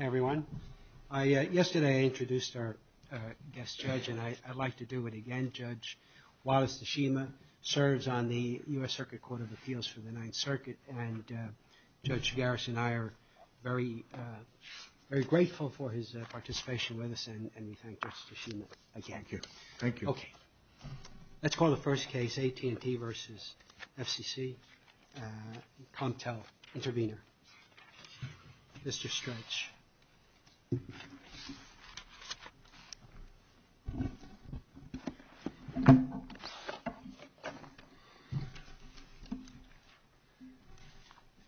Hi everyone. Yesterday I introduced our guest judge, and I'd like to do it again. Judge Wallace Tashima serves on the U.S. Circuit Court of Appeals for the Ninth Circuit, and Judge Garris and I are very grateful for his participation with us, and we thank Judge Tashima again. Thank you. Okay. Let's call the first case, AT&T v. FCC, Comtel Intervenor. Mr. Stretch.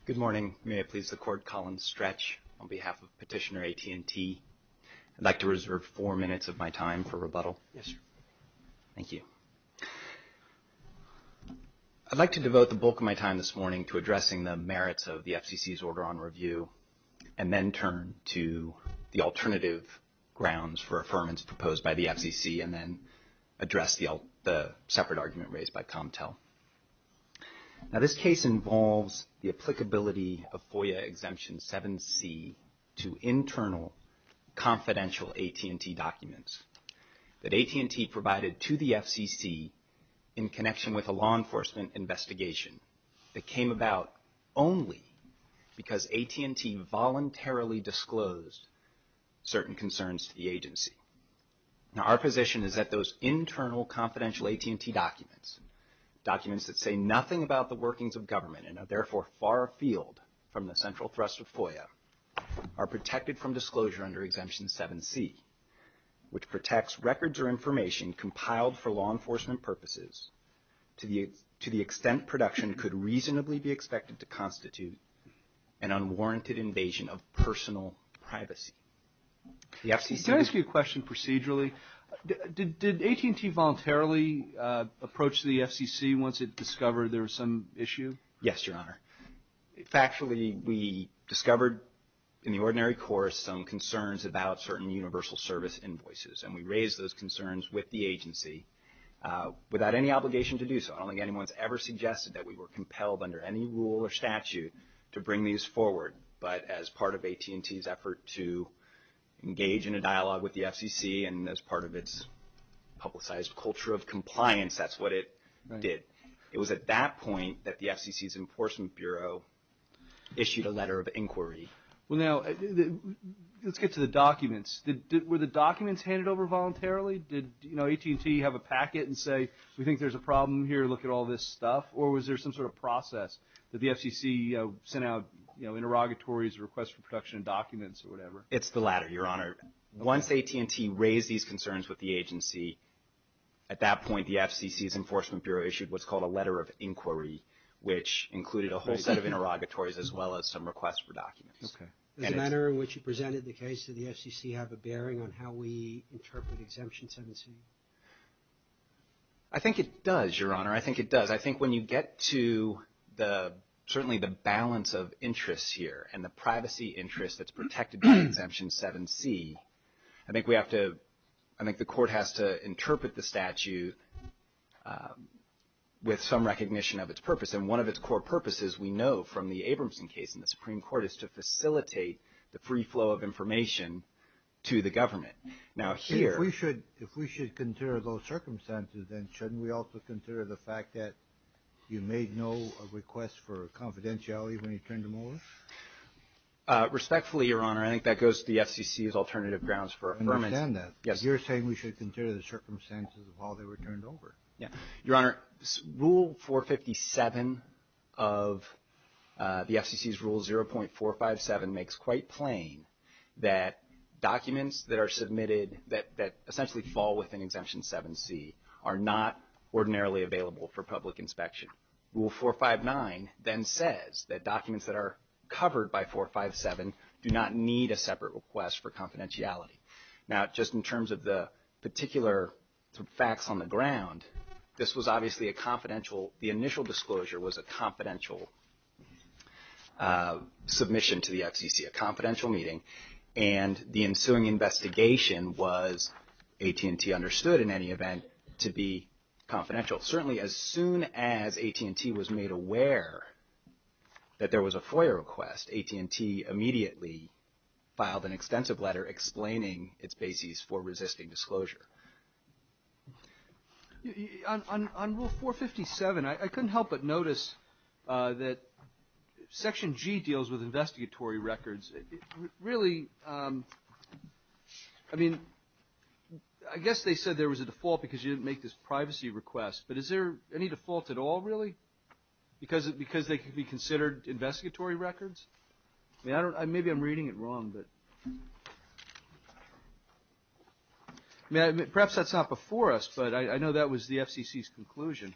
Good morning. May I please the court call on Stretch on behalf of Petitioner AT&T? I'd like to reserve four minutes of my time for rebuttal. Yes, sir. Thank you. I'd like to devote the bulk of my time this morning to addressing the merits of the FCC's order on review, and then turn to the alternative grounds for affirmance proposed by the FCC, and then address the separate argument raised by Comtel. Now this case involves the applicability of FOIA Exemption 7C to internal confidential AT&T documents that AT&T provided to the FCC in connection with a law enforcement investigation that came about only because AT&T voluntarily disclosed certain concerns to the agency. Now our position is that those internal confidential AT&T documents, documents that say nothing about the workings of government and are therefore far afield from the central thrust of FOIA, are protected from disclosure under Exemption 7C, which protects records or information compiled for law enforcement purposes to the extent production could reasonably be expected to constitute an unwarranted invasion of personal privacy. Can I ask you a question procedurally? Did AT&T voluntarily approach the FCC once it discovered there was some issue? Yes, Your Honor. Factually, we discovered in the ordinary course some concerns about certain universal service invoices, and we raised those concerns with the agency without any obligation to do so. I don't think anyone's ever suggested that we were compelled under any rule or statute to bring these forward, but as part of AT&T's effort to engage in a dialogue with the FCC and as part of its publicized culture of compliance, that's what it did. It was at that point that the FCC's Enforcement Bureau issued a letter of inquiry. Well, now, let's get to the documents. Were the documents handed over voluntarily? Did AT&T have a packet and say, we think there's a problem here, look at all this stuff? Or was there some sort of process that the FCC sent out interrogatories or requests for production of documents or whatever? It's the latter, Your Honor. Once AT&T raised these concerns with the agency, at that point, the FCC's Enforcement Bureau issued what's called a letter of inquiry, which included a whole set of interrogatories as well as some requests for documents. Does the manner in which you presented the case to the FCC have a bearing on how we interpret Exemption 17? I think it does, Your Honor. I think it does. I think when you get to certainly the balance of interests here and the privacy interest that's protected by Exemption 7C, I think the court has to interpret the statute with some recognition of its purpose. And one of its core purposes, we know from the Abramson case in the Supreme Court, is to facilitate the free flow of information to the government. If we should consider those circumstances, then shouldn't we also consider the fact that you made no request for confidentiality when you turned them over? Respectfully, Your Honor, I think that goes to the FCC's alternative grounds for affirmation. I understand that. You're saying we should consider the circumstances of how they were turned over. Your Honor, Rule 457 of the FCC's Rule 0.457 makes quite plain that documents that are submitted that essentially fall within Exemption 7C are not ordinarily available for public inspection. Rule 459 then says that documents that are covered by 457 do not need a separate request for confidentiality. Now, just in terms of the particular facts on the ground, this was obviously a confidential, the initial disclosure was a confidential submission to the FCC, a confidential meeting. And the ensuing investigation was, AT&T understood in any event, to be confidential. Certainly, as soon as AT&T was made aware that there was a FOIA request, AT&T immediately filed an extensive letter explaining its basis for resisting disclosure. On Rule 457, I couldn't help but notice that Section G deals with investigatory records. Really, I mean, I guess they said there was a default because you didn't make this privacy request, but is there any default at all, really? Because they could be considered investigatory records? Maybe I'm reading it wrong, but perhaps that's not before us, but I know that was the FCC's conclusion.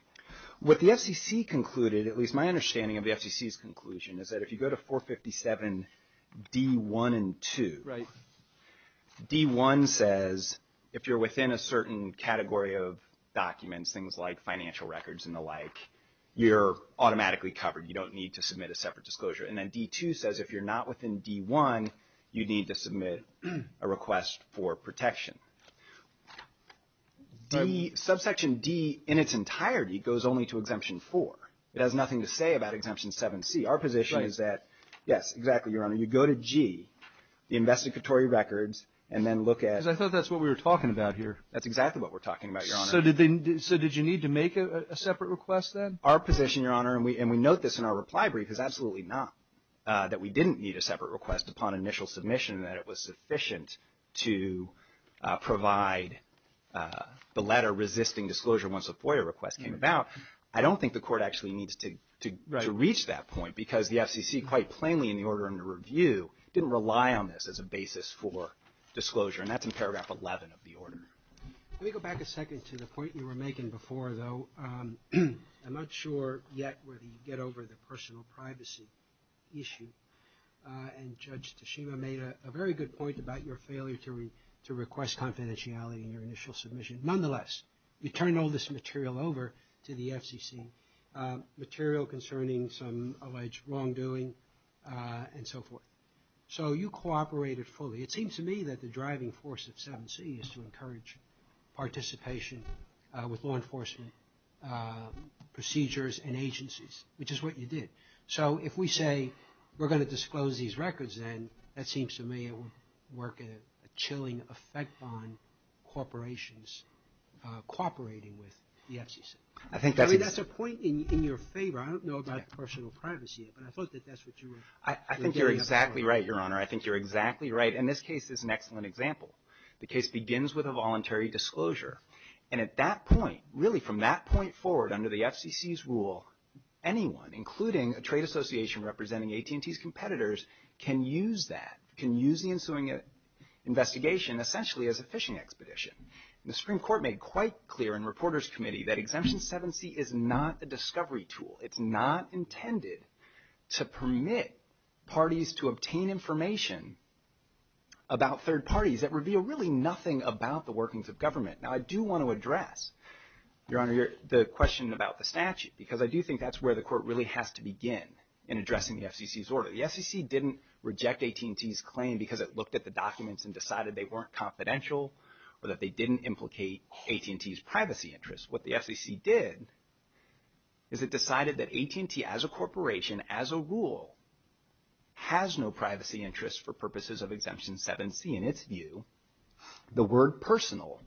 What the FCC concluded, at least my understanding of the FCC's conclusion, is that if you go to 457 D1 and 2, D1 says if you're within a certain category of documents, things like financial records and the like, you're automatically covered. You don't need to submit a separate disclosure. And then D2 says if you're not within D1, you need to submit a request for protection. Subsection D in its entirety goes only to Exemption 4. It has nothing to say about Exemption 7C. Our position is that, yes, exactly, Your Honor. You go to G, the investigatory records, and then look at — Because I thought that's what we were talking about here. That's exactly what we're talking about, Your Honor. So did you need to make a separate request then? Our position, Your Honor, and we note this in our reply brief, is absolutely not that we didn't need a separate request upon initial submission, that it was sufficient to provide the letter resisting disclosure once a FOIA request came about. I don't think the Court actually needs to reach that point because the FCC, quite plainly in the order under review, didn't rely on this as a basis for disclosure. Let me go back a second to the point you were making before, though. I'm not sure yet whether you get over the personal privacy issue. And Judge Tashima made a very good point about your failure to request confidentiality in your initial submission. Nonetheless, you turned all this material over to the FCC, material concerning some alleged wrongdoing and so forth. So you cooperated fully. It seems to me that the driving force of 7C is to encourage participation with law enforcement procedures and agencies, which is what you did. So if we say we're going to disclose these records then, that seems to me it would work a chilling effect on corporations cooperating with the FCC. I mean, that's a point in your favor. I don't know about personal privacy, but I thought that that's what you were getting at. I think you're exactly right, Your Honor. I think you're exactly right. And this case is an excellent example. The case begins with a voluntary disclosure. And at that point, really from that point forward under the FCC's rule, anyone, including a trade association representing AT&T's competitors, can use that, can use the ensuing investigation essentially as a fishing expedition. The Supreme Court made quite clear in Reporters Committee that Exemption 7C is not a discovery tool. It's not intended to permit parties to obtain information about third parties that reveal really nothing about the workings of government. Now, I do want to address, Your Honor, the question about the statute, because I do think that's where the court really has to begin in addressing the FCC's order. The FCC didn't reject AT&T's claim because it looked at the documents and decided they weren't confidential or that they didn't implicate AT&T's privacy interests. What the FCC did is it decided that AT&T as a corporation, as a rule, has no privacy interests for purposes of Exemption 7C. In its view, the word personal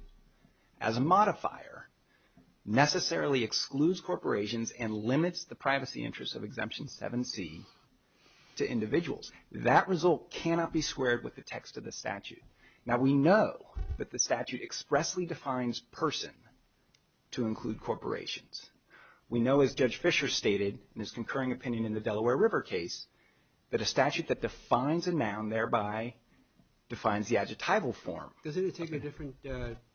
as a modifier necessarily excludes corporations and limits the privacy interests of Exemption 7C to individuals. That result cannot be squared with the text of the statute. Now, we know that the statute expressly defines person to include corporations. We know, as Judge Fischer stated in his concurring opinion in the Delaware River case, that a statute that defines a noun thereby defines the adjectival form. Does it take a different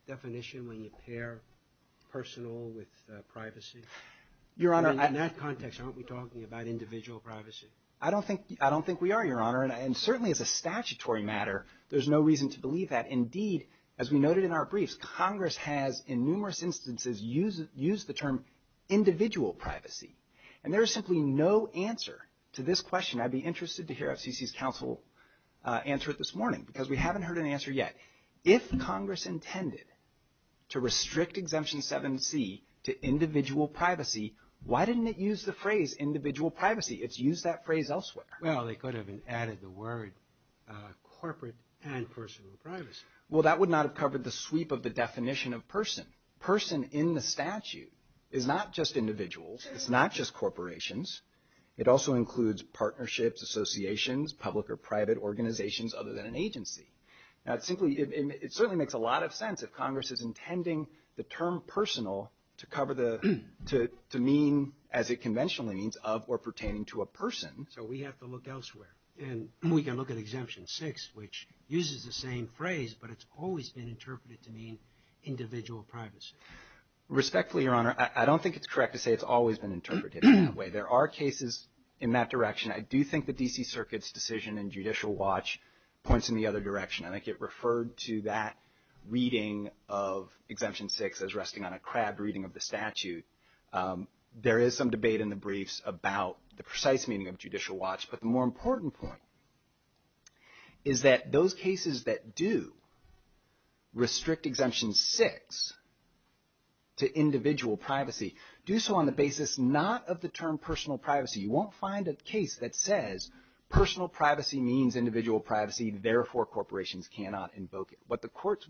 definition when you pair personal with privacy? Your Honor, I... In that context, aren't we talking about individual privacy? I don't think we are, Your Honor, and certainly as a statutory matter, there's no reason to believe that. Indeed, as we noted in our briefs, Congress has, in numerous instances, used the term individual privacy. And there is simply no answer to this question. I'd be interested to hear FCC's counsel answer it this morning because we haven't heard an answer yet. If Congress intended to restrict Exemption 7C to individual privacy, why didn't it use the phrase individual privacy? It's used that phrase elsewhere. Well, they could have added the word corporate and personal privacy. Well, that would not have covered the sweep of the definition of person. Person in the statute is not just individuals. It's not just corporations. It also includes partnerships, associations, public or private organizations other than an agency. Now, simply, it certainly makes a lot of sense if Congress is intending the term personal to cover the... to mean, as it conventionally means, of or pertaining to a person. So we have to look elsewhere. And we can look at Exemption 6, which uses the same phrase, but it's always been interpreted to mean individual privacy. Respectfully, Your Honor, I don't think it's correct to say it's always been interpreted that way. There are cases in that direction. I do think the D.C. Circuit's decision in Judicial Watch points in the other direction. I think it referred to that reading of Exemption 6 as resting on a crab reading of the statute. There is some debate in the briefs about the precise meaning of Judicial Watch. But the more important point is that those cases that do restrict Exemption 6 to individual privacy, do so on the basis not of the term personal privacy. You won't find a case that says personal privacy means individual privacy. Therefore, corporations cannot invoke it. What the courts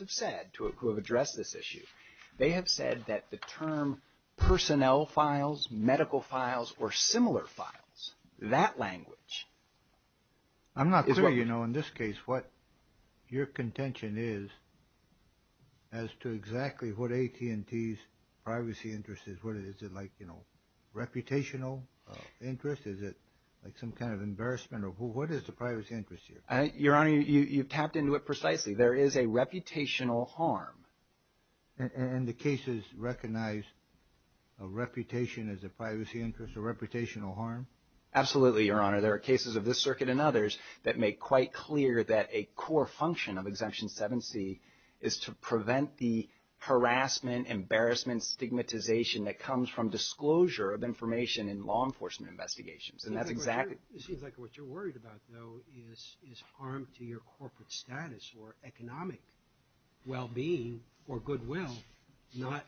have said who have addressed this issue, they have said that the term personnel files, medical files, or similar files, that language... I'm not sure, you know, in this case what your contention is as to exactly what AT&T's privacy interest is. Is it like, you know, reputational interest? Is it like some kind of embarrassment? Or what is the privacy interest here? Your Honor, you've tapped into it precisely. There is a reputational harm. And the cases recognize a reputation as a privacy interest, a reputational harm? Absolutely, Your Honor. There are cases of this circuit and others that make quite clear that a core function of Exemption 7C is to prevent the harassment, embarrassment, stigmatization that comes from disclosure of information in law enforcement investigations. And that's exactly... It seems like what you're worried about, though, is harm to your corporate status or economic well-being or goodwill, not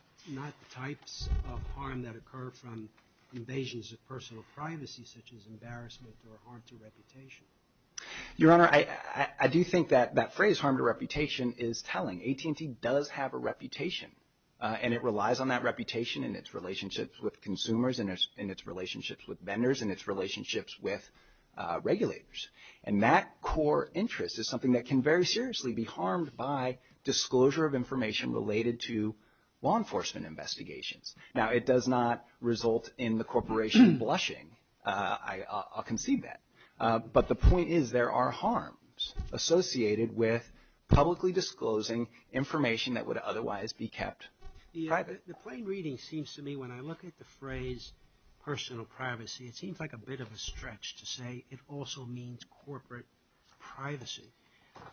types of harm that occur from invasions of personal privacy such as embarrassment or harm to reputation. Your Honor, I do think that that phrase, harm to reputation, is telling. AT&T does have a reputation, and it relies on that reputation and its relationships with consumers and its relationships with vendors and its relationships with regulators. And that core interest is something that can very seriously be harmed by disclosure of information related to law enforcement investigations. Now, it does not result in the corporation blushing. I'll concede that. But the point is there are harms associated with publicly disclosing information that would otherwise be kept private. The plain reading seems to me, when I look at the phrase personal privacy, it seems like a bit of a stretch to say it also means corporate privacy.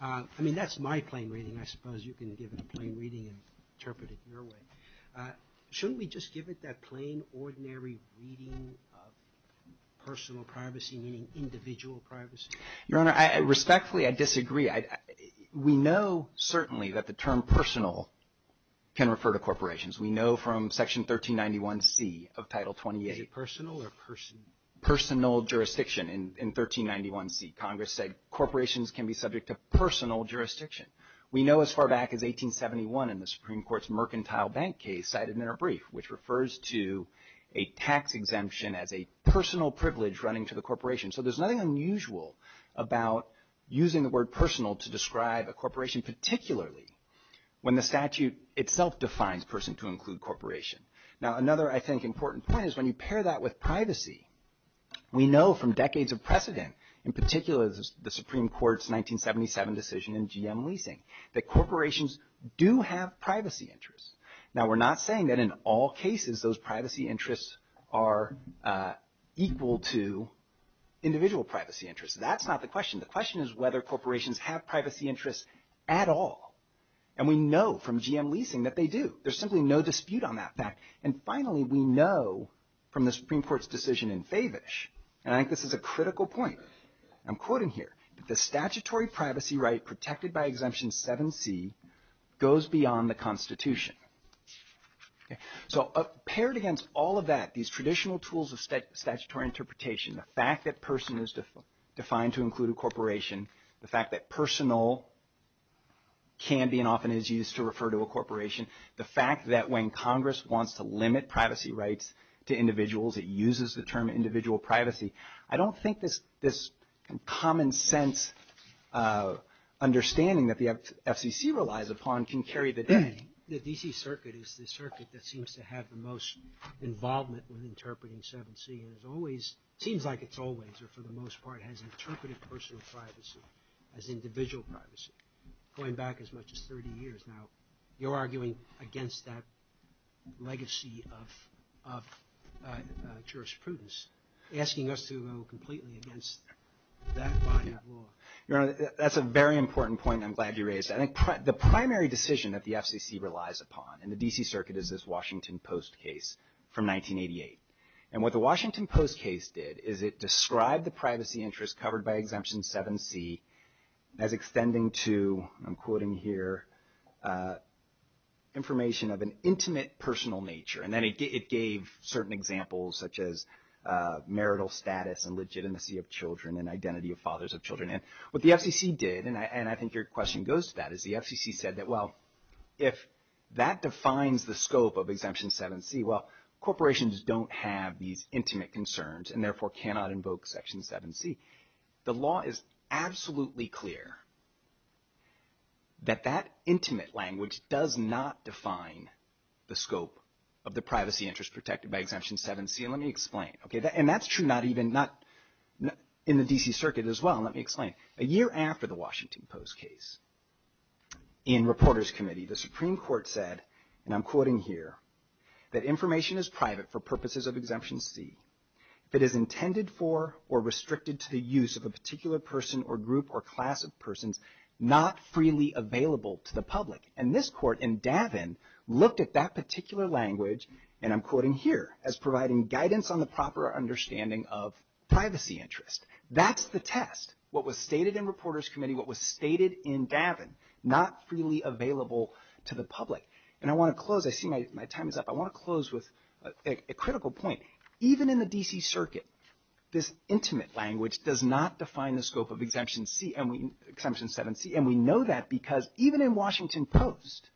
I mean, that's my plain reading. I suppose you can give it a plain reading and interpret it your way. Shouldn't we just give it that plain, ordinary reading of personal privacy, meaning individual privacy? Your Honor, respectfully, I disagree. We know certainly that the term personal can refer to corporations. We know from Section 1391C of Title 28. Is it personal or person? Personal jurisdiction in 1391C. Congress said corporations can be subject to personal jurisdiction. We know as far back as 1871 in the Supreme Court's mercantile bank case cited in a brief, which refers to a tax exemption as a personal privilege running to the corporation. So there's nothing unusual about using the word personal to describe a corporation, particularly when the statute itself defines person to include corporation. Now, another, I think, important point is when you pair that with privacy, we know from decades of precedent, in particular the Supreme Court's 1977 decision in GM leasing, that corporations do have privacy interests. Now, we're not saying that in all cases those privacy interests are equal to individual privacy interests. That's not the question. The question is whether corporations have privacy interests at all. And we know from GM leasing that they do. There's simply no dispute on that fact. And finally, we know from the Supreme Court's decision in Favish, and I think this is a critical point I'm quoting here, that the statutory privacy right protected by Exemption 7C goes beyond the Constitution. So paired against all of that, these traditional tools of statutory interpretation, the fact that person is defined to include a corporation, the fact that personal can be and often is used to refer to a corporation, the fact that when Congress wants to limit privacy rights to individuals, it uses the term individual privacy, I don't think this common sense understanding that the FCC relies upon can carry the day. The D.C. Circuit is the circuit that seems to have the most involvement with interpreting 7C. And it's always, seems like it's always, or for the most part, has interpreted personal privacy as individual privacy going back as much as 30 years. Now, you're arguing against that legacy of jurisprudence, asking us to go completely against that body of law. Your Honor, that's a very important point I'm glad you raised. I think the primary decision that the FCC relies upon in the D.C. Circuit is this Washington Post case from 1988. And what the Washington Post case did is it described the privacy interest covered by Exemption 7C as extending to, I'm quoting here, information of an intimate personal nature. And then it gave certain examples such as marital status and legitimacy of children and identity of fathers of children. And what the FCC did, and I think your question goes to that, is the FCC said that, well, if that defines the scope of Exemption 7C, well, corporations don't have these intimate concerns and therefore cannot invoke Section 7C. The law is absolutely clear that that intimate language does not define the scope of the privacy interest protected by Exemption 7C. And let me explain. And that's true not even in the D.C. Circuit as well. Let me explain. A year after the Washington Post case, in Reporters Committee, the Supreme Court said, and I'm quoting here, that information is private for purposes of Exemption C. If it is intended for or restricted to the use of a particular person or group or class of persons not freely available to the public. And this court in Davin looked at that particular language, and I'm quoting here, as providing guidance on the proper understanding of privacy interest. That's the test. What was stated in Reporters Committee, what was stated in Davin, not freely available to the public. And I want to close. I see my time is up. I want to close with a critical point. Even in the D.C. Circuit, this intimate language does not define the scope of Exemption 7C. And we know that because even in Washington Post,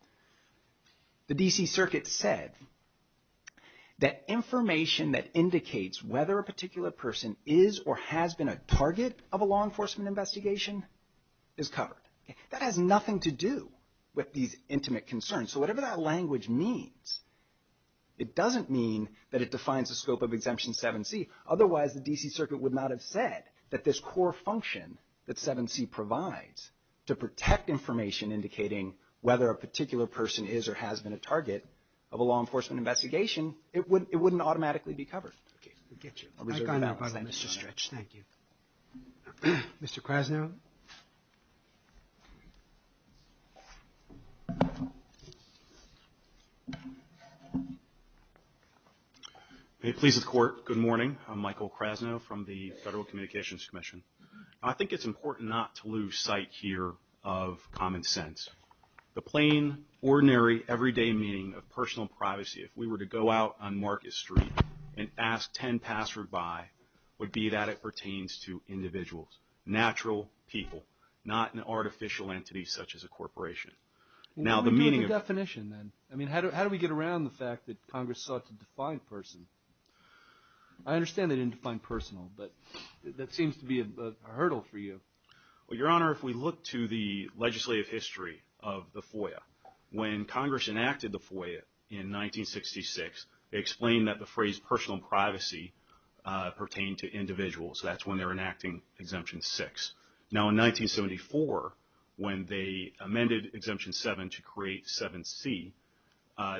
the D.C. Circuit said that information that indicates whether a particular person is or has been a target of a law enforcement investigation is covered. That has nothing to do with these intimate concerns. So whatever that language means, it doesn't mean that it defines the scope of Exemption 7C. Otherwise, the D.C. Circuit would not have said that this core function that 7C provides to protect information indicating whether a particular person is or has been a target of a law enforcement investigation, it wouldn't automatically be covered. Thank you. Mr. Krasnow. Pleased with the Court. Good morning. I'm Michael Krasnow from the Federal Communications Commission. I think it's important not to lose sight here of common sense. The plain, ordinary, everyday meaning of personal privacy, if we were to go out on Marcus Street and ask 10 passers-by, would be that it pertains to individuals, natural people, not an artificial entity such as a corporation. Now, the meaning of... What would be the definition then? I mean, how do we get around the fact that Congress sought to define person? I understand they didn't define personal, but that seems to be a hurdle for you. Well, Your Honor, if we look to the legislative history of the FOIA, when Congress enacted the FOIA in 1966, they explained that the phrase personal privacy pertained to individuals. That's when they were enacting Exemption 6. Now, in 1974, when they amended Exemption 7 to create 7C,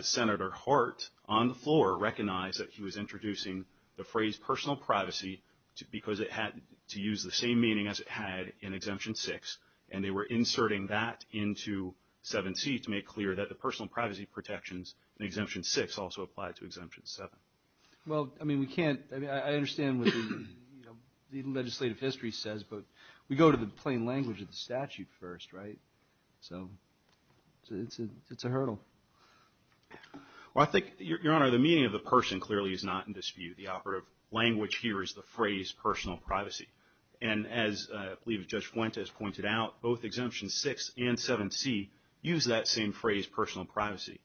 Senator Hart, on the floor, recognized that he was introducing the phrase personal privacy because it had to use the same meaning as it had in Exemption 6, and they were inserting that into 7C to make clear that the personal privacy protections in Exemption 6 also applied to Exemption 7. Well, I mean, we can't... I mean, I understand what the legislative history says, but we go to the plain language of the statute first, right? So it's a hurdle. Well, I think, Your Honor, the meaning of the person clearly is not in dispute. The operative language here is the phrase personal privacy. And as I believe Judge Fuentes pointed out, both Exemption 6 and 7C use that same phrase, personal privacy.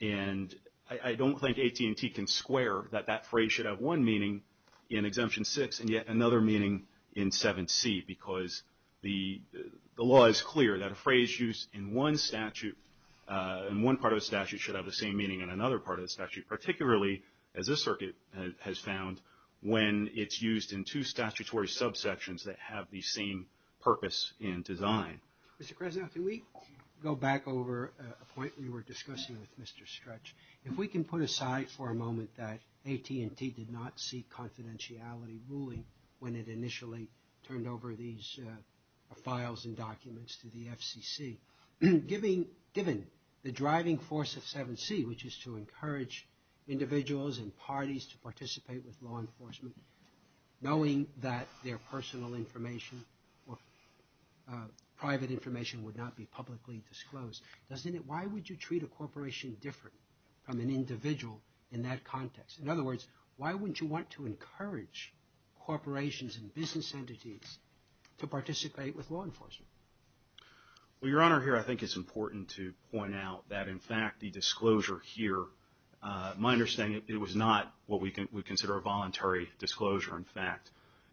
And I don't think AT&T can square that that phrase should have one meaning in Exemption 6 and yet another meaning in 7C, because the law is clear that a phrase used in one statute, in one part of the statute, should have the same meaning in another part of the statute, particularly, as this circuit has found, when it's used in two statutory subsections that have the same purpose in design. Mr. Cresnell, can we go back over a point we were discussing with Mr. Stretch? If we can put aside for a moment that AT&T did not seek confidentiality ruling when it initially turned over these files and documents to the FCC, given the driving force of 7C, which is to encourage individuals and parties to participate with law enforcement, knowing that their personal information or private information would not be publicly disclosed, why would you treat a corporation different from an individual in that context? In other words, why wouldn't you want to encourage corporations and business entities to participate with law enforcement? Well, Your Honor, here I think it's important to point out that, in fact, the disclosure here, my understanding, it was not what we consider a voluntary disclosure. In fact,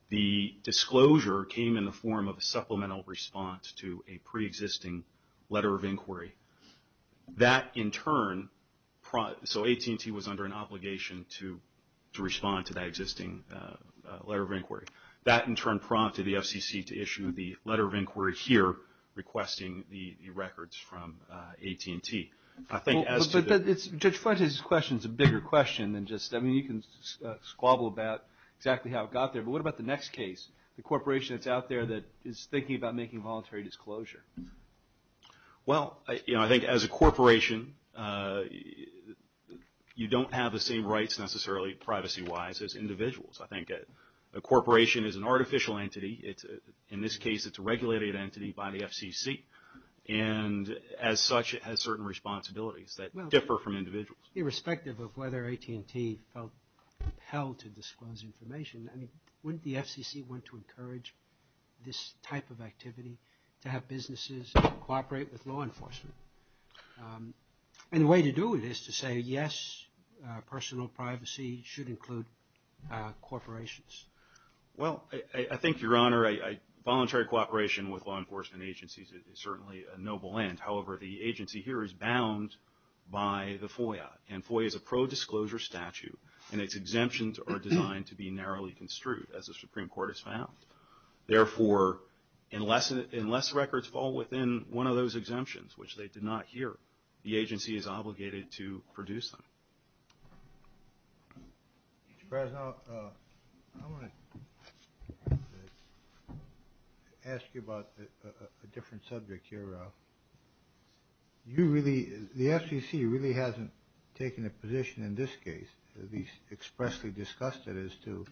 the disclosure came in the form of a supplemental response to a pre-existing letter of inquiry. That, in turn, so AT&T was under an obligation to respond to that existing letter of inquiry. That, in turn, prompted the FCC to issue the letter of inquiry here, requesting the records from AT&T. I think as to the... But Judge Fuentes' question is a bigger question than just, I mean, you can squabble about exactly how it got there, but what about the next case, the corporation that's out there that is thinking about making voluntary disclosure? Well, you know, I think as a corporation, you don't have the same rights necessarily, privacy-wise, as individuals. I think a corporation is an artificial entity. In this case, it's a regulated entity by the FCC, and as such, it has certain responsibilities that differ from individuals. Irrespective of whether AT&T felt compelled to disclose information, I mean, wouldn't the FCC want to encourage this type of activity, to have businesses cooperate with law enforcement? And the way to do it is to say, yes, personal privacy should include corporations. Well, I think, Your Honor, voluntary cooperation with law enforcement agencies is certainly a noble end. However, the agency here is bound by the FOIA, and FOIA is a pro-disclosure statute, and its exemptions are designed to be narrowly construed, as the Supreme Court has found. Therefore, unless records fall within one of those exemptions, which they did not here, the agency is obligated to produce them. Mr. Krasnow, I want to ask you about a different subject here, Ralph. You really, the FCC really hasn't taken a position in this case, at least expressly discussed it, as to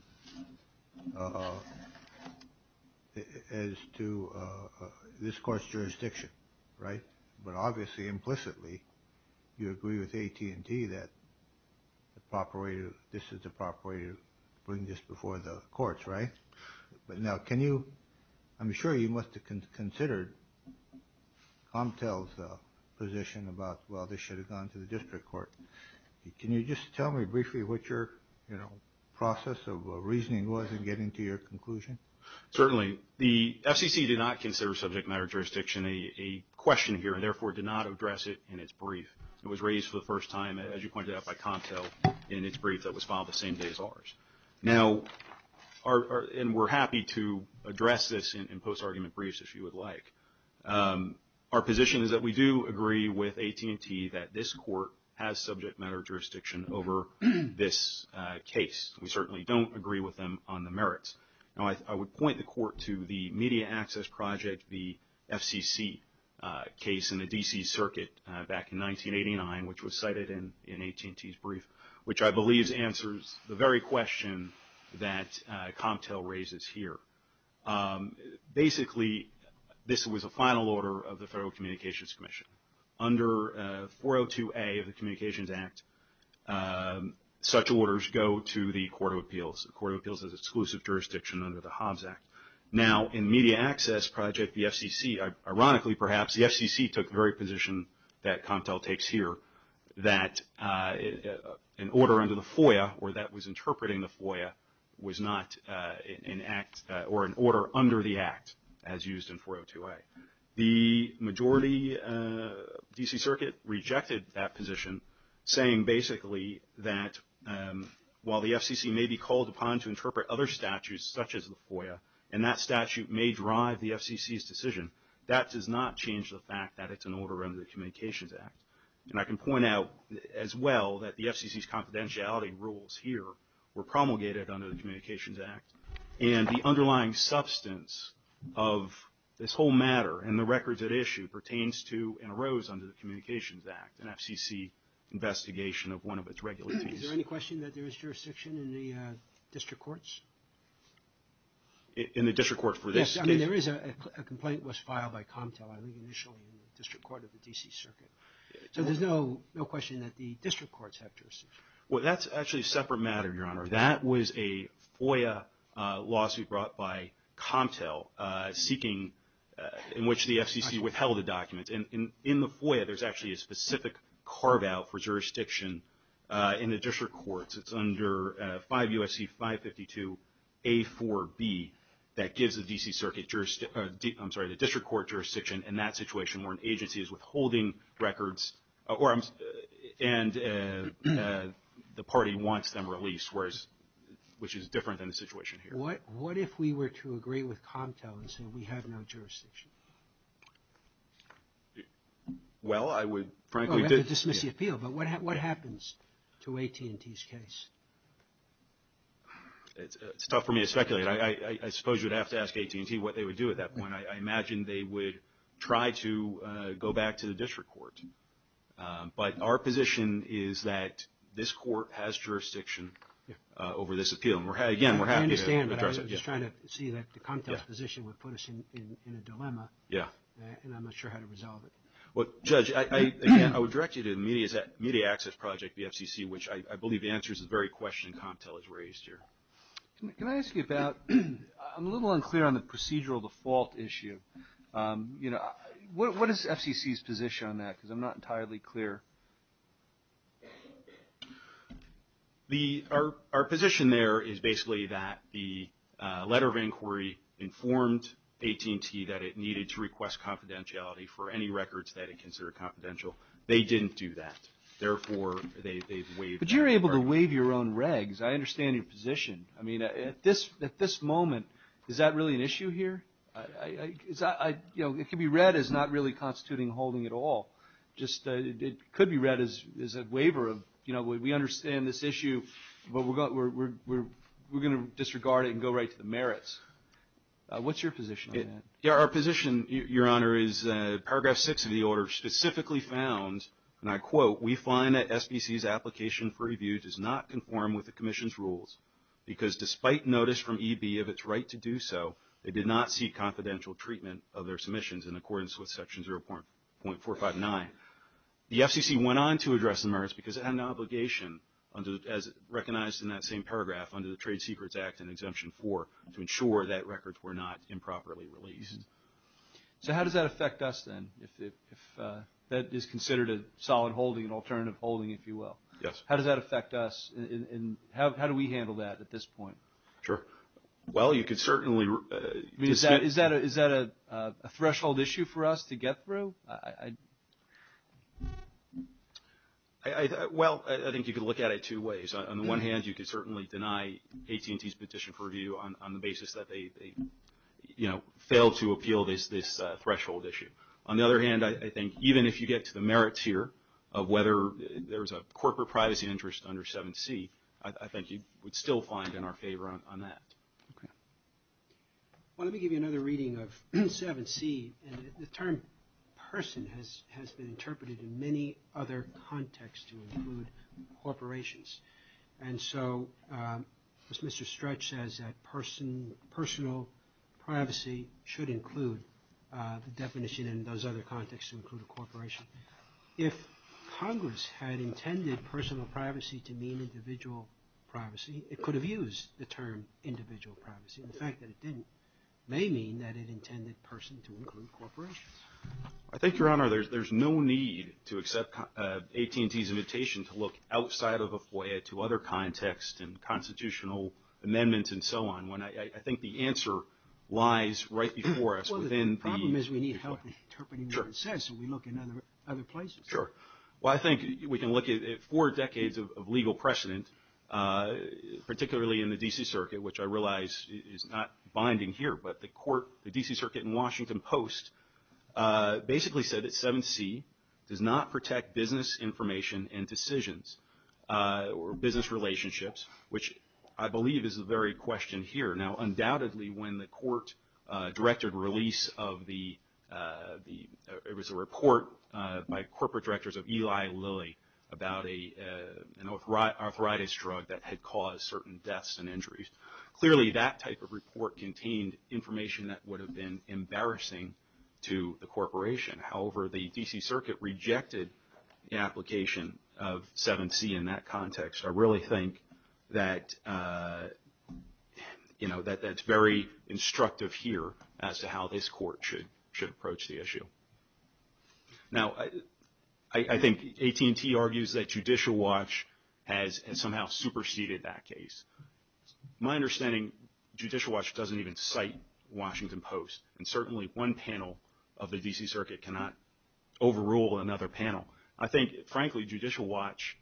this court's jurisdiction, right? But obviously, implicitly, you agree with AT&T that this is the proper way to bring this before the courts, right? But now, can you, I'm sure you must have considered Comtel's position about, well, this should have gone to the district court. Can you just tell me briefly what your process of reasoning was in getting to your conclusion? Certainly. The FCC did not consider subject matter jurisdiction. A question here, and therefore did not address it in its brief. It was raised for the first time, as you pointed out by Comtel, in its brief that was filed the same day as ours. Now, and we're happy to address this in post-argument briefs, if you would like. Our position is that we do agree with AT&T that this court has subject matter jurisdiction over this case. We certainly don't agree with them on the merits. Now, I would point the court to the media access project, the FCC case in the D.C. Circuit back in 1989, which was cited in AT&T's brief, which I believe answers the very question that Comtel raises here. Basically, this was a final order of the Federal Communications Commission. Under 402A of the Communications Act, such orders go to the Court of Appeals. The Court of Appeals has exclusive jurisdiction under the Hobbs Act. Now, in media access project, the FCC, ironically perhaps, the FCC took the very position that Comtel takes here, that an order under the FOIA, or that was interpreting the FOIA, was not an act, or an order under the act, as used in 402A. The majority D.C. Circuit rejected that position, saying basically that while the FCC may be called upon to interpret other FOIA, and that statute may drive the FCC's decision, that does not change the fact that it's an order under the Communications Act. And I can point out, as well, that the FCC's confidentiality rules here were promulgated under the Communications Act, and the underlying substance of this whole matter, and the records at issue, pertains to and arose under the Communications Act, an FCC investigation of one of its regulations. Is there any question that there is jurisdiction in the district courts? In the district court for this case? Yes. I mean, there is a complaint that was filed by Comtel, I believe initially, in the district court of the D.C. Circuit. So there's no question that the district courts have jurisdiction. Well, that's actually a separate matter, Your Honor. That was a FOIA lawsuit brought by Comtel, seeking, in which the FCC withheld the documents. And in the FOIA, there's actually a specific carve-out for jurisdiction in the district courts. It's under 5 U.S.C. 552 A.4.B. that gives the D.C. Circuit jurisdiction, I'm sorry, the district court jurisdiction in that situation, where an agency is withholding records, and the party wants them released, which is different than the situation here. What if we were to agree with Comtel and say we have no jurisdiction? Well, I would, frankly, dismiss the appeal. But what happens to AT&T's case? It's tough for me to speculate. I suppose you'd have to ask AT&T what they would do at that point. I imagine they would try to go back to the district court. But our position is that this court has jurisdiction over this appeal. Again, we're happy to address it. but I was just trying to see that the Comtel's position would put us in a dilemma. Yeah. And I'm not sure how to resolve it. Well, Judge, again, I would direct you to the Media Access Project, the FCC, which I believe answers the very question Comtel has raised here. Can I ask you about, I'm a little unclear on the procedural default issue. What is FCC's position on that? Because I'm not entirely clear. Our position there is basically that the letter of inquiry informed AT&T that it needed to request confidentiality for any records that it considered confidential. They didn't do that. Therefore, they've waived. But you're able to waive your own regs. I understand your position. I mean, at this moment, is that really an issue here? It could be read as not really constituting holding at all. It could be read as a waiver of, we understand this issue, but we're going to disregard it and go right to the merits. What's your position on that? Our position, Your Honor, is that Paragraph 6 of the order specifically found, and I quote, we find that SBC's application for review does not conform with the Commission's rules, because despite notice from EB of its right to do so, they did not seek confidential treatment of their submissions in accordance with Section 0.459. The FCC went on to address the merits because it had an obligation, as recognized in that same paragraph under the Trade Secrets Act and Exemption 4, to ensure that records were not improperly released. So how does that affect us then, if that is considered a solid holding, an alternative holding, if you will? Yes. How does that affect us, and how do we handle that at this point? Sure. Well, you could certainly, I mean, is that a threshold issue for us to get through? Well, I think you could look at it two ways. On the one hand, you could certainly deny AT&T's petition for review on the basis that they, you know, failed to appeal this threshold issue. On the other hand, I think even if you get to the merit tier of whether there's a corporate privacy interest under 7C, I think you would still find in our favor on that. Okay. Well, let me give you another reading of 7C. And the term person has been interpreted in many other contexts to include corporations. And so, as Mr. Stretch says, that person, personal privacy should include the definition in those other contexts to include a corporation. If Congress had intended personal privacy to mean individual privacy, it could have used the term individual privacy. And the fact that it didn't may mean that it intended person to include corporations. I think, Your Honor, there's no need to accept AT&T's invitation to look outside of a FOIA to other contexts and constitutional amendments and so on. I think the answer lies right before us. Well, the problem is we need help interpreting what it says, so we look in other places. Sure. Well, I think we can look at four decades of legal precedent, particularly in the D.C. Circuit, which I realize is not binding here. But the court, the D.C. Circuit and Washington Post basically said that 7C does not protect business information and decisions or business relationships, which I believe is the very question here. Now, undoubtedly when the court directed release of the, it was a report by corporate directors of Eli Lilly about an arthritis drug that had caused certain deaths and injuries. Clearly, that type of report contained information that would have been embarrassing to the corporation. However, the D.C. Circuit rejected the application of 7C in that context. I really think that that's very instructive here as to how this court should approach the issue. Now, I think AT&T argues that Judicial Watch has somehow superseded that case. My understanding, Judicial Watch doesn't even cite Washington Post, and certainly one panel of the D.C. Circuit cannot overrule another panel. I think, frankly, Judicial Watch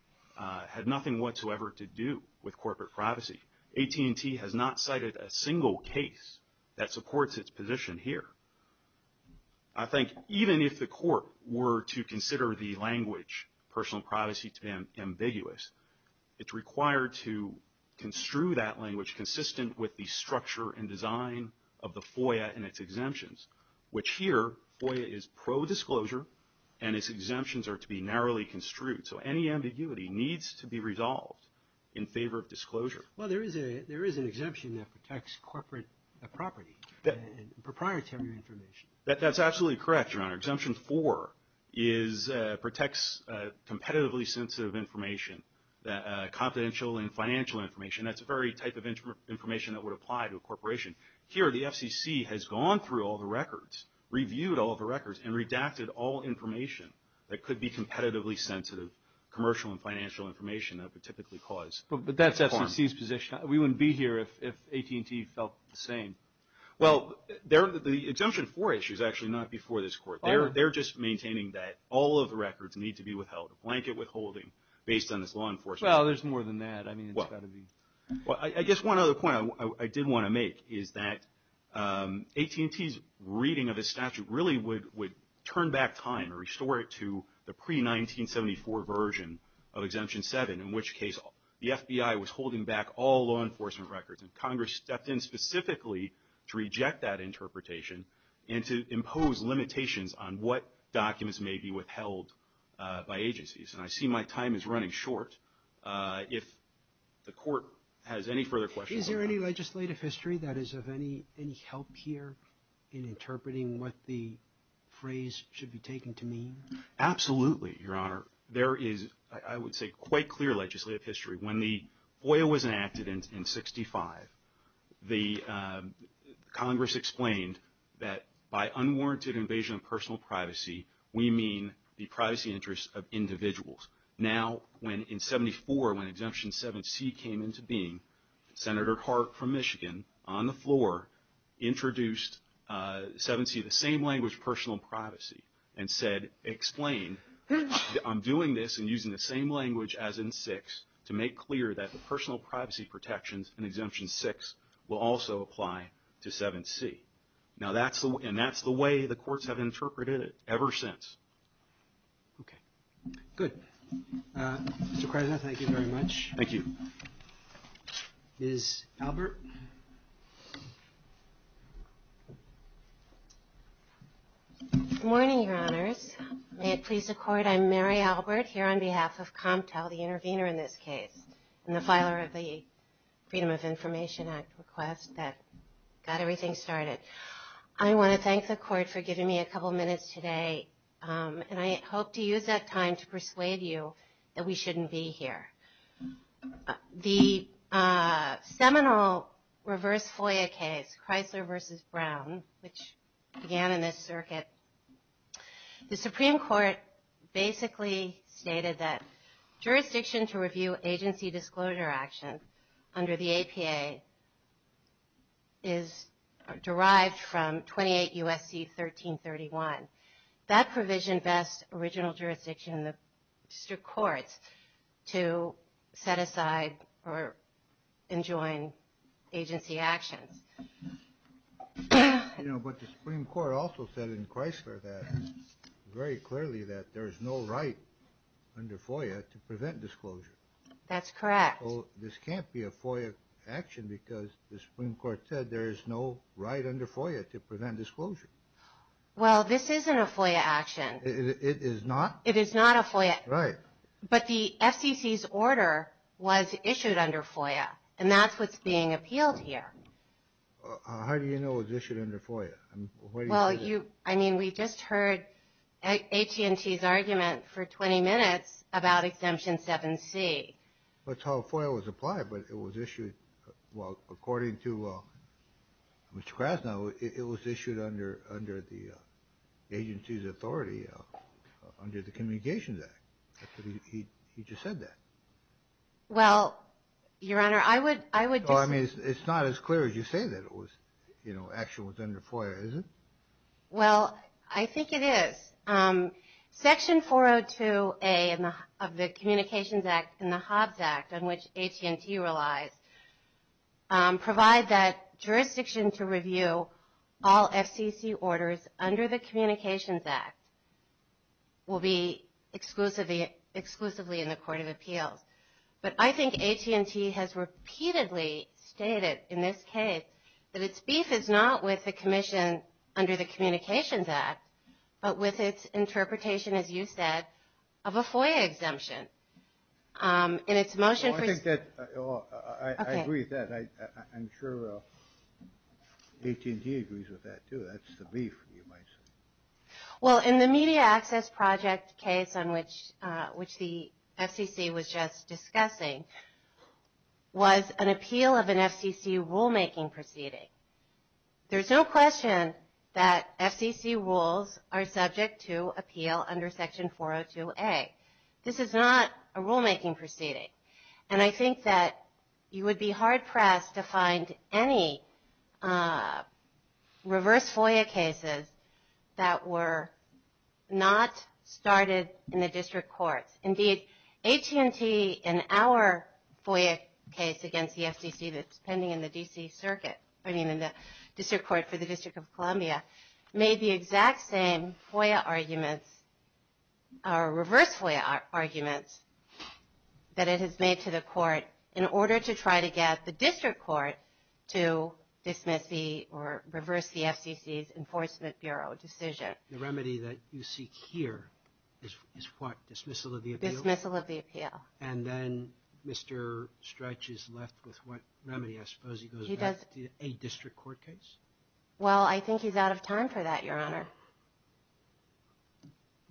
had nothing whatsoever to do with corporate privacy. AT&T has not cited a single case that supports its position here. I think even if the court were to consider the language personal privacy to be ambiguous, it's required to construe that language consistent with the structure and design of the FOIA and its exemptions, which here, FOIA is pro-disclosure, and its exemptions are to be narrowly construed. So any ambiguity needs to be resolved in favor of disclosure. Well, there is an exemption that protects corporate property and proprietary information. That's absolutely correct, Your Honor. Exemption 4 protects competitively sensitive information, confidential and financial information. That's the very type of information that would apply to a corporation. Here, the FCC has gone through all the records, reviewed all the records, and redacted all information that could be competitively sensitive, commercial and financial information that would typically cause harm. But that's FCC's position. We wouldn't be here if AT&T felt the same. Well, the exemption 4 issue is actually not before this Court. They're just maintaining that all of the records need to be withheld, a blanket withholding based on this law enforcement. Well, there's more than that. I mean, it's got to be. Well, I guess one other point I did want to make is that AT&T's reading of the statute really would turn back time or restore it to the pre-1974 version of Exemption 7, in which case the FBI was holding back all law enforcement records, and Congress stepped in specifically to reject that interpretation and to impose limitations on what documents may be withheld by agencies. And I see my time is running short. If the Court has any further questions. Is there any legislative history that is of any help here in interpreting what the phrase should be taken to mean? Absolutely, Your Honor. There is, I would say, quite clear legislative history. When the FOIA was enacted in 1965, the Congress explained that by unwarranted invasion of personal privacy, we mean the privacy interests of individuals. Now, in 1974, when Exemption 7C came into being, Senator Harp from Michigan, on the floor, introduced 7C, the same language, personal privacy, and said, explain, I'm doing this and using the same language as in 6, to make clear that the personal privacy protections in Exemption 6 will also apply to 7C. And that's the way the courts have interpreted it ever since. Okay. Good. Mr. Krasner, thank you very much. Thank you. Ms. Albert? Good morning, Your Honors. May it please the Court, I'm Mary Albert, here on behalf of Comptel, the intervener in this case, and the filer of the Freedom of Information Act request that got everything started. I want to thank the Court for giving me a couple minutes today, and I hope to use that time to persuade you that we shouldn't be here. The seminal reverse FOIA case, Chrysler v. Brown, which began in this circuit, the Supreme Court basically stated that jurisdiction to review agency disclosure actions under the APA is derived from 28 U.S.C. 1331. That provision bests original jurisdiction in the district courts to set aside or enjoin agency actions. You know, but the Supreme Court also said in Chrysler that, very clearly, that there is no right under FOIA to prevent disclosure. That's correct. So this can't be a FOIA action, because the Supreme Court said there is no right under FOIA to prevent disclosure. Well, this isn't a FOIA action. It is not? It is not a FOIA. Right. But the FCC's order was issued under FOIA, and that's what's being appealed here. How do you know it was issued under FOIA? I mean, we just heard AT&T's argument for 20 minutes about Exemption 7C. That's how FOIA was applied, but it was issued. Well, according to Mr. Krasnow, it was issued under the agency's authority under the Communications Act. He just said that. Well, Your Honor, I would disagree. I mean, it's not as clear as you say that it was, you know, action was under FOIA, is it? Well, I think it is. Section 402A of the Communications Act and the Hobbs Act, on which AT&T relies, provide that jurisdiction to review all FCC orders under the Communications Act will be exclusively in the Court of Appeals. But I think AT&T has repeatedly stated in this case that its beef is not with the Commission under the Communications Act, but with its interpretation, as you said, of a FOIA exemption. In its motion for you. Well, I agree with that. I'm sure AT&T agrees with that, too. That's the beef, you might say. Well, in the Media Access Project case, which the FCC was just discussing, was an appeal of an FCC rulemaking proceeding. There's no question that FCC rules are subject to appeal under Section 402A. This is not a rulemaking proceeding. And I think that you would be hard-pressed to find any reverse FOIA cases that were not started in the district courts. Indeed, AT&T, in our FOIA case against the FCC that's pending in the D.C. Circuit, I mean in the district court for the District of Columbia, made the exact same FOIA arguments or reverse FOIA arguments that it has made to the court in order to try to get the district court to dismiss the or reverse the FCC's Enforcement Bureau decision. The remedy that you seek here is what? Dismissal of the appeal? Dismissal of the appeal. And then Mr. Stretch is left with what remedy? I suppose he goes back to a district court case? Well, I think he's out of time for that, Your Honor.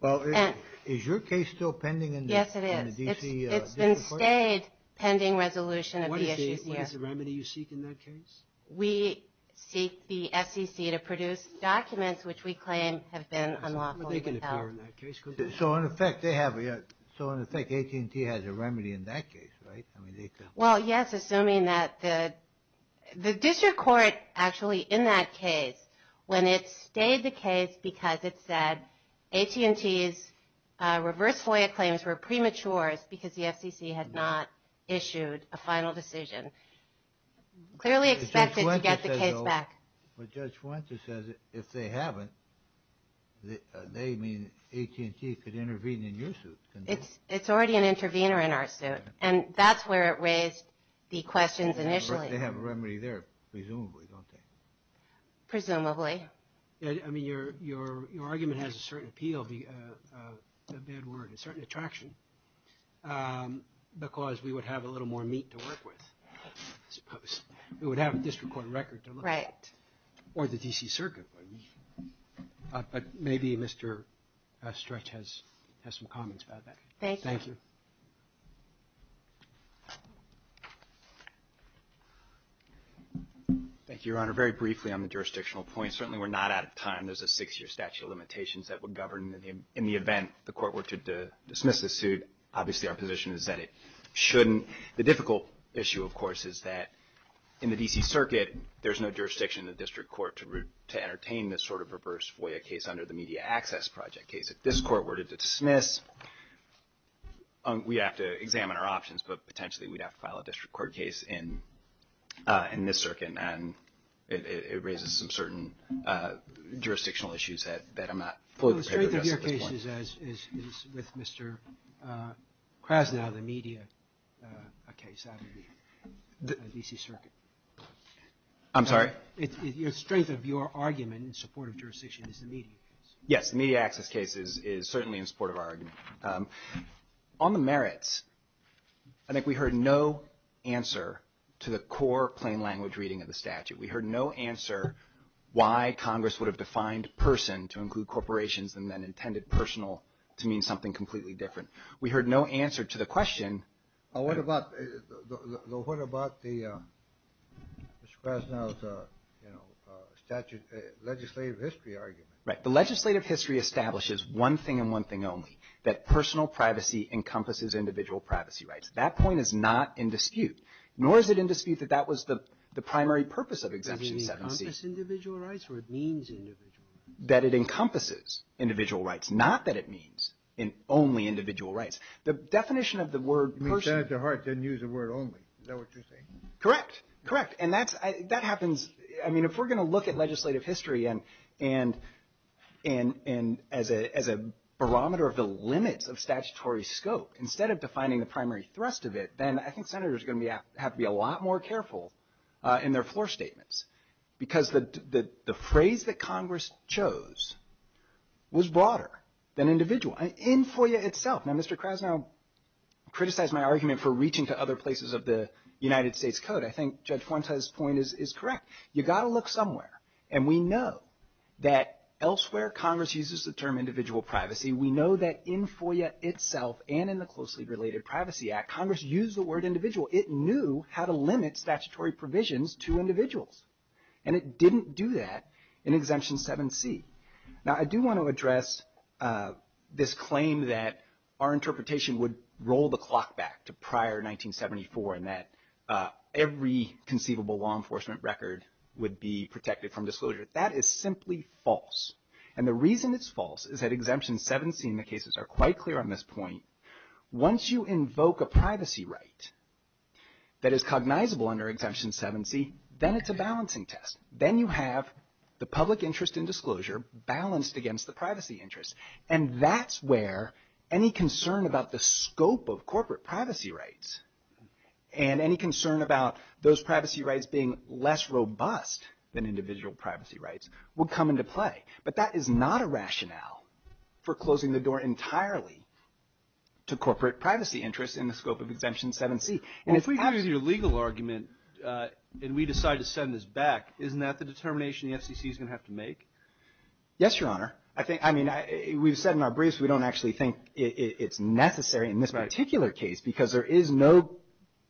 Well, is your case still pending in the D.C. District Court? Yes, it is. It's been stayed pending resolution of the issues, yes. What is the remedy you seek in that case? We seek the FCC to produce documents which we claim have been unlawfully compelled. So in effect, AT&T has a remedy in that case, right? Well, yes, assuming that the district court actually in that case, when it stayed the case because it said AT&T's reverse FOIA claims were premature because the FCC had not issued a final decision, clearly expected to get the case back. But Judge Fuente says if they haven't, they mean AT&T could intervene in your suit. And that's where it raised the questions initially. They have a remedy there, presumably, don't they? Presumably. I mean, your argument has a certain appeal, a bad word, a certain attraction, because we would have a little more meat to work with, I suppose. We would have a district court record to look at. Right. Or the D.C. Circuit. But maybe Mr. Stretch has some comments about that. Thank you. Thank you. Thank you, Your Honor. Very briefly on the jurisdictional point, certainly we're not out of time. There's a six-year statute of limitations that would govern in the event the court were to dismiss the suit. Obviously, our position is that it shouldn't. The difficult issue, of course, is that in the D.C. Circuit, there's no jurisdiction in the district court to entertain this sort of reverse FOIA case under the Media Access Project case. If this court were to dismiss, we'd have to examine our options, but potentially we'd have to file a district court case in this circuit, and it raises some certain jurisdictional issues that I'm not fully prepared to address at this point. The strength of your case is with Mr. Krasnow, the media case out of the D.C. Circuit. I'm sorry? The strength of your argument in support of jurisdiction is the media case. Yes, the media access case is certainly in support of our argument. On the merits, I think we heard no answer to the core plain language reading of the statute. We heard no answer why Congress would have defined person to include corporations and then intended personal to mean something completely different. We heard no answer to the question. What about Mr. Krasnow's legislative history argument? Right. The legislative history establishes one thing and one thing only, that personal privacy encompasses individual privacy rights. That point is not in dispute, nor is it in dispute that that was the primary purpose of Exemption 7C. Does it encompass individual rights or it means individual rights? That it encompasses individual rights, not that it means only individual rights. The definition of the word person — You mean Senator Hart didn't use the word only. Is that what you're saying? Correct. Correct. And that happens — I mean, if we're going to look at legislative history and as a barometer of the limits of statutory scope, instead of defining the primary thrust of it, then I think Senators are going to have to be a lot more careful in their floor statements because the phrase that Congress chose was broader than individual. In FOIA itself. Now, Mr. Krasnow criticized my argument for reaching to other places of the United States Code. I think Judge Fuentes' point is correct. You've got to look somewhere. And we know that elsewhere Congress uses the term individual privacy. We know that in FOIA itself and in the Closely Related Privacy Act, Congress used the word individual. It knew how to limit statutory provisions to individuals. And it didn't do that in Exemption 7C. Now, I do want to address this claim that our interpretation would roll the clock back to prior 1974 and that every conceivable law enforcement record would be protected from disclosure. That is simply false. And the reason it's false is that Exemption 7C and the cases are quite clear on this point. Once you invoke a privacy right that is cognizable under Exemption 7C, then it's a balancing test. Then you have the public interest in disclosure balanced against the privacy interest. And that's where any concern about the scope of corporate privacy rights and any concern about those privacy rights being less robust than individual privacy rights will come into play. But that is not a rationale for closing the door entirely to corporate privacy interests in the scope of Exemption 7C. And if we have your legal argument and we decide to send this back, isn't that the determination the FCC is going to have to make? Yes, Your Honor. I think, I mean, we've said in our briefs we don't actually think it's necessary in this particular case because there is no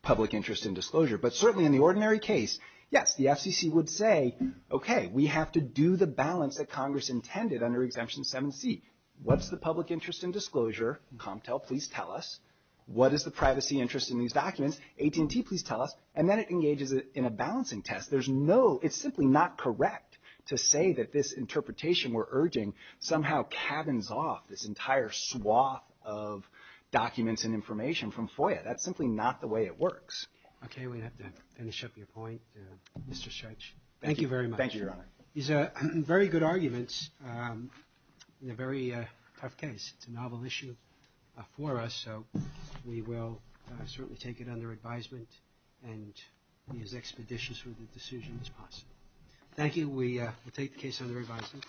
public interest in disclosure. But certainly in the ordinary case, yes, the FCC would say, okay, we have to do the balance that Congress intended under Exemption 7C. What's the public interest in disclosure? Comptel, please tell us. What is the privacy interest in these documents? AT&T, please tell us. And then it engages in a balancing test. There's no, it's simply not correct to say that this interpretation we're urging somehow cabins off this entire swath of documents and information from FOIA. That's simply not the way it works. Okay, we have to finish up your point, Mr. Scheich. Thank you very much. Thank you, Your Honor. These are very good arguments in a very tough case. It's a novel issue for us, so we will certainly take it under advisement and be as expeditious with the decision as possible. Thank you. We'll take the case under advisement.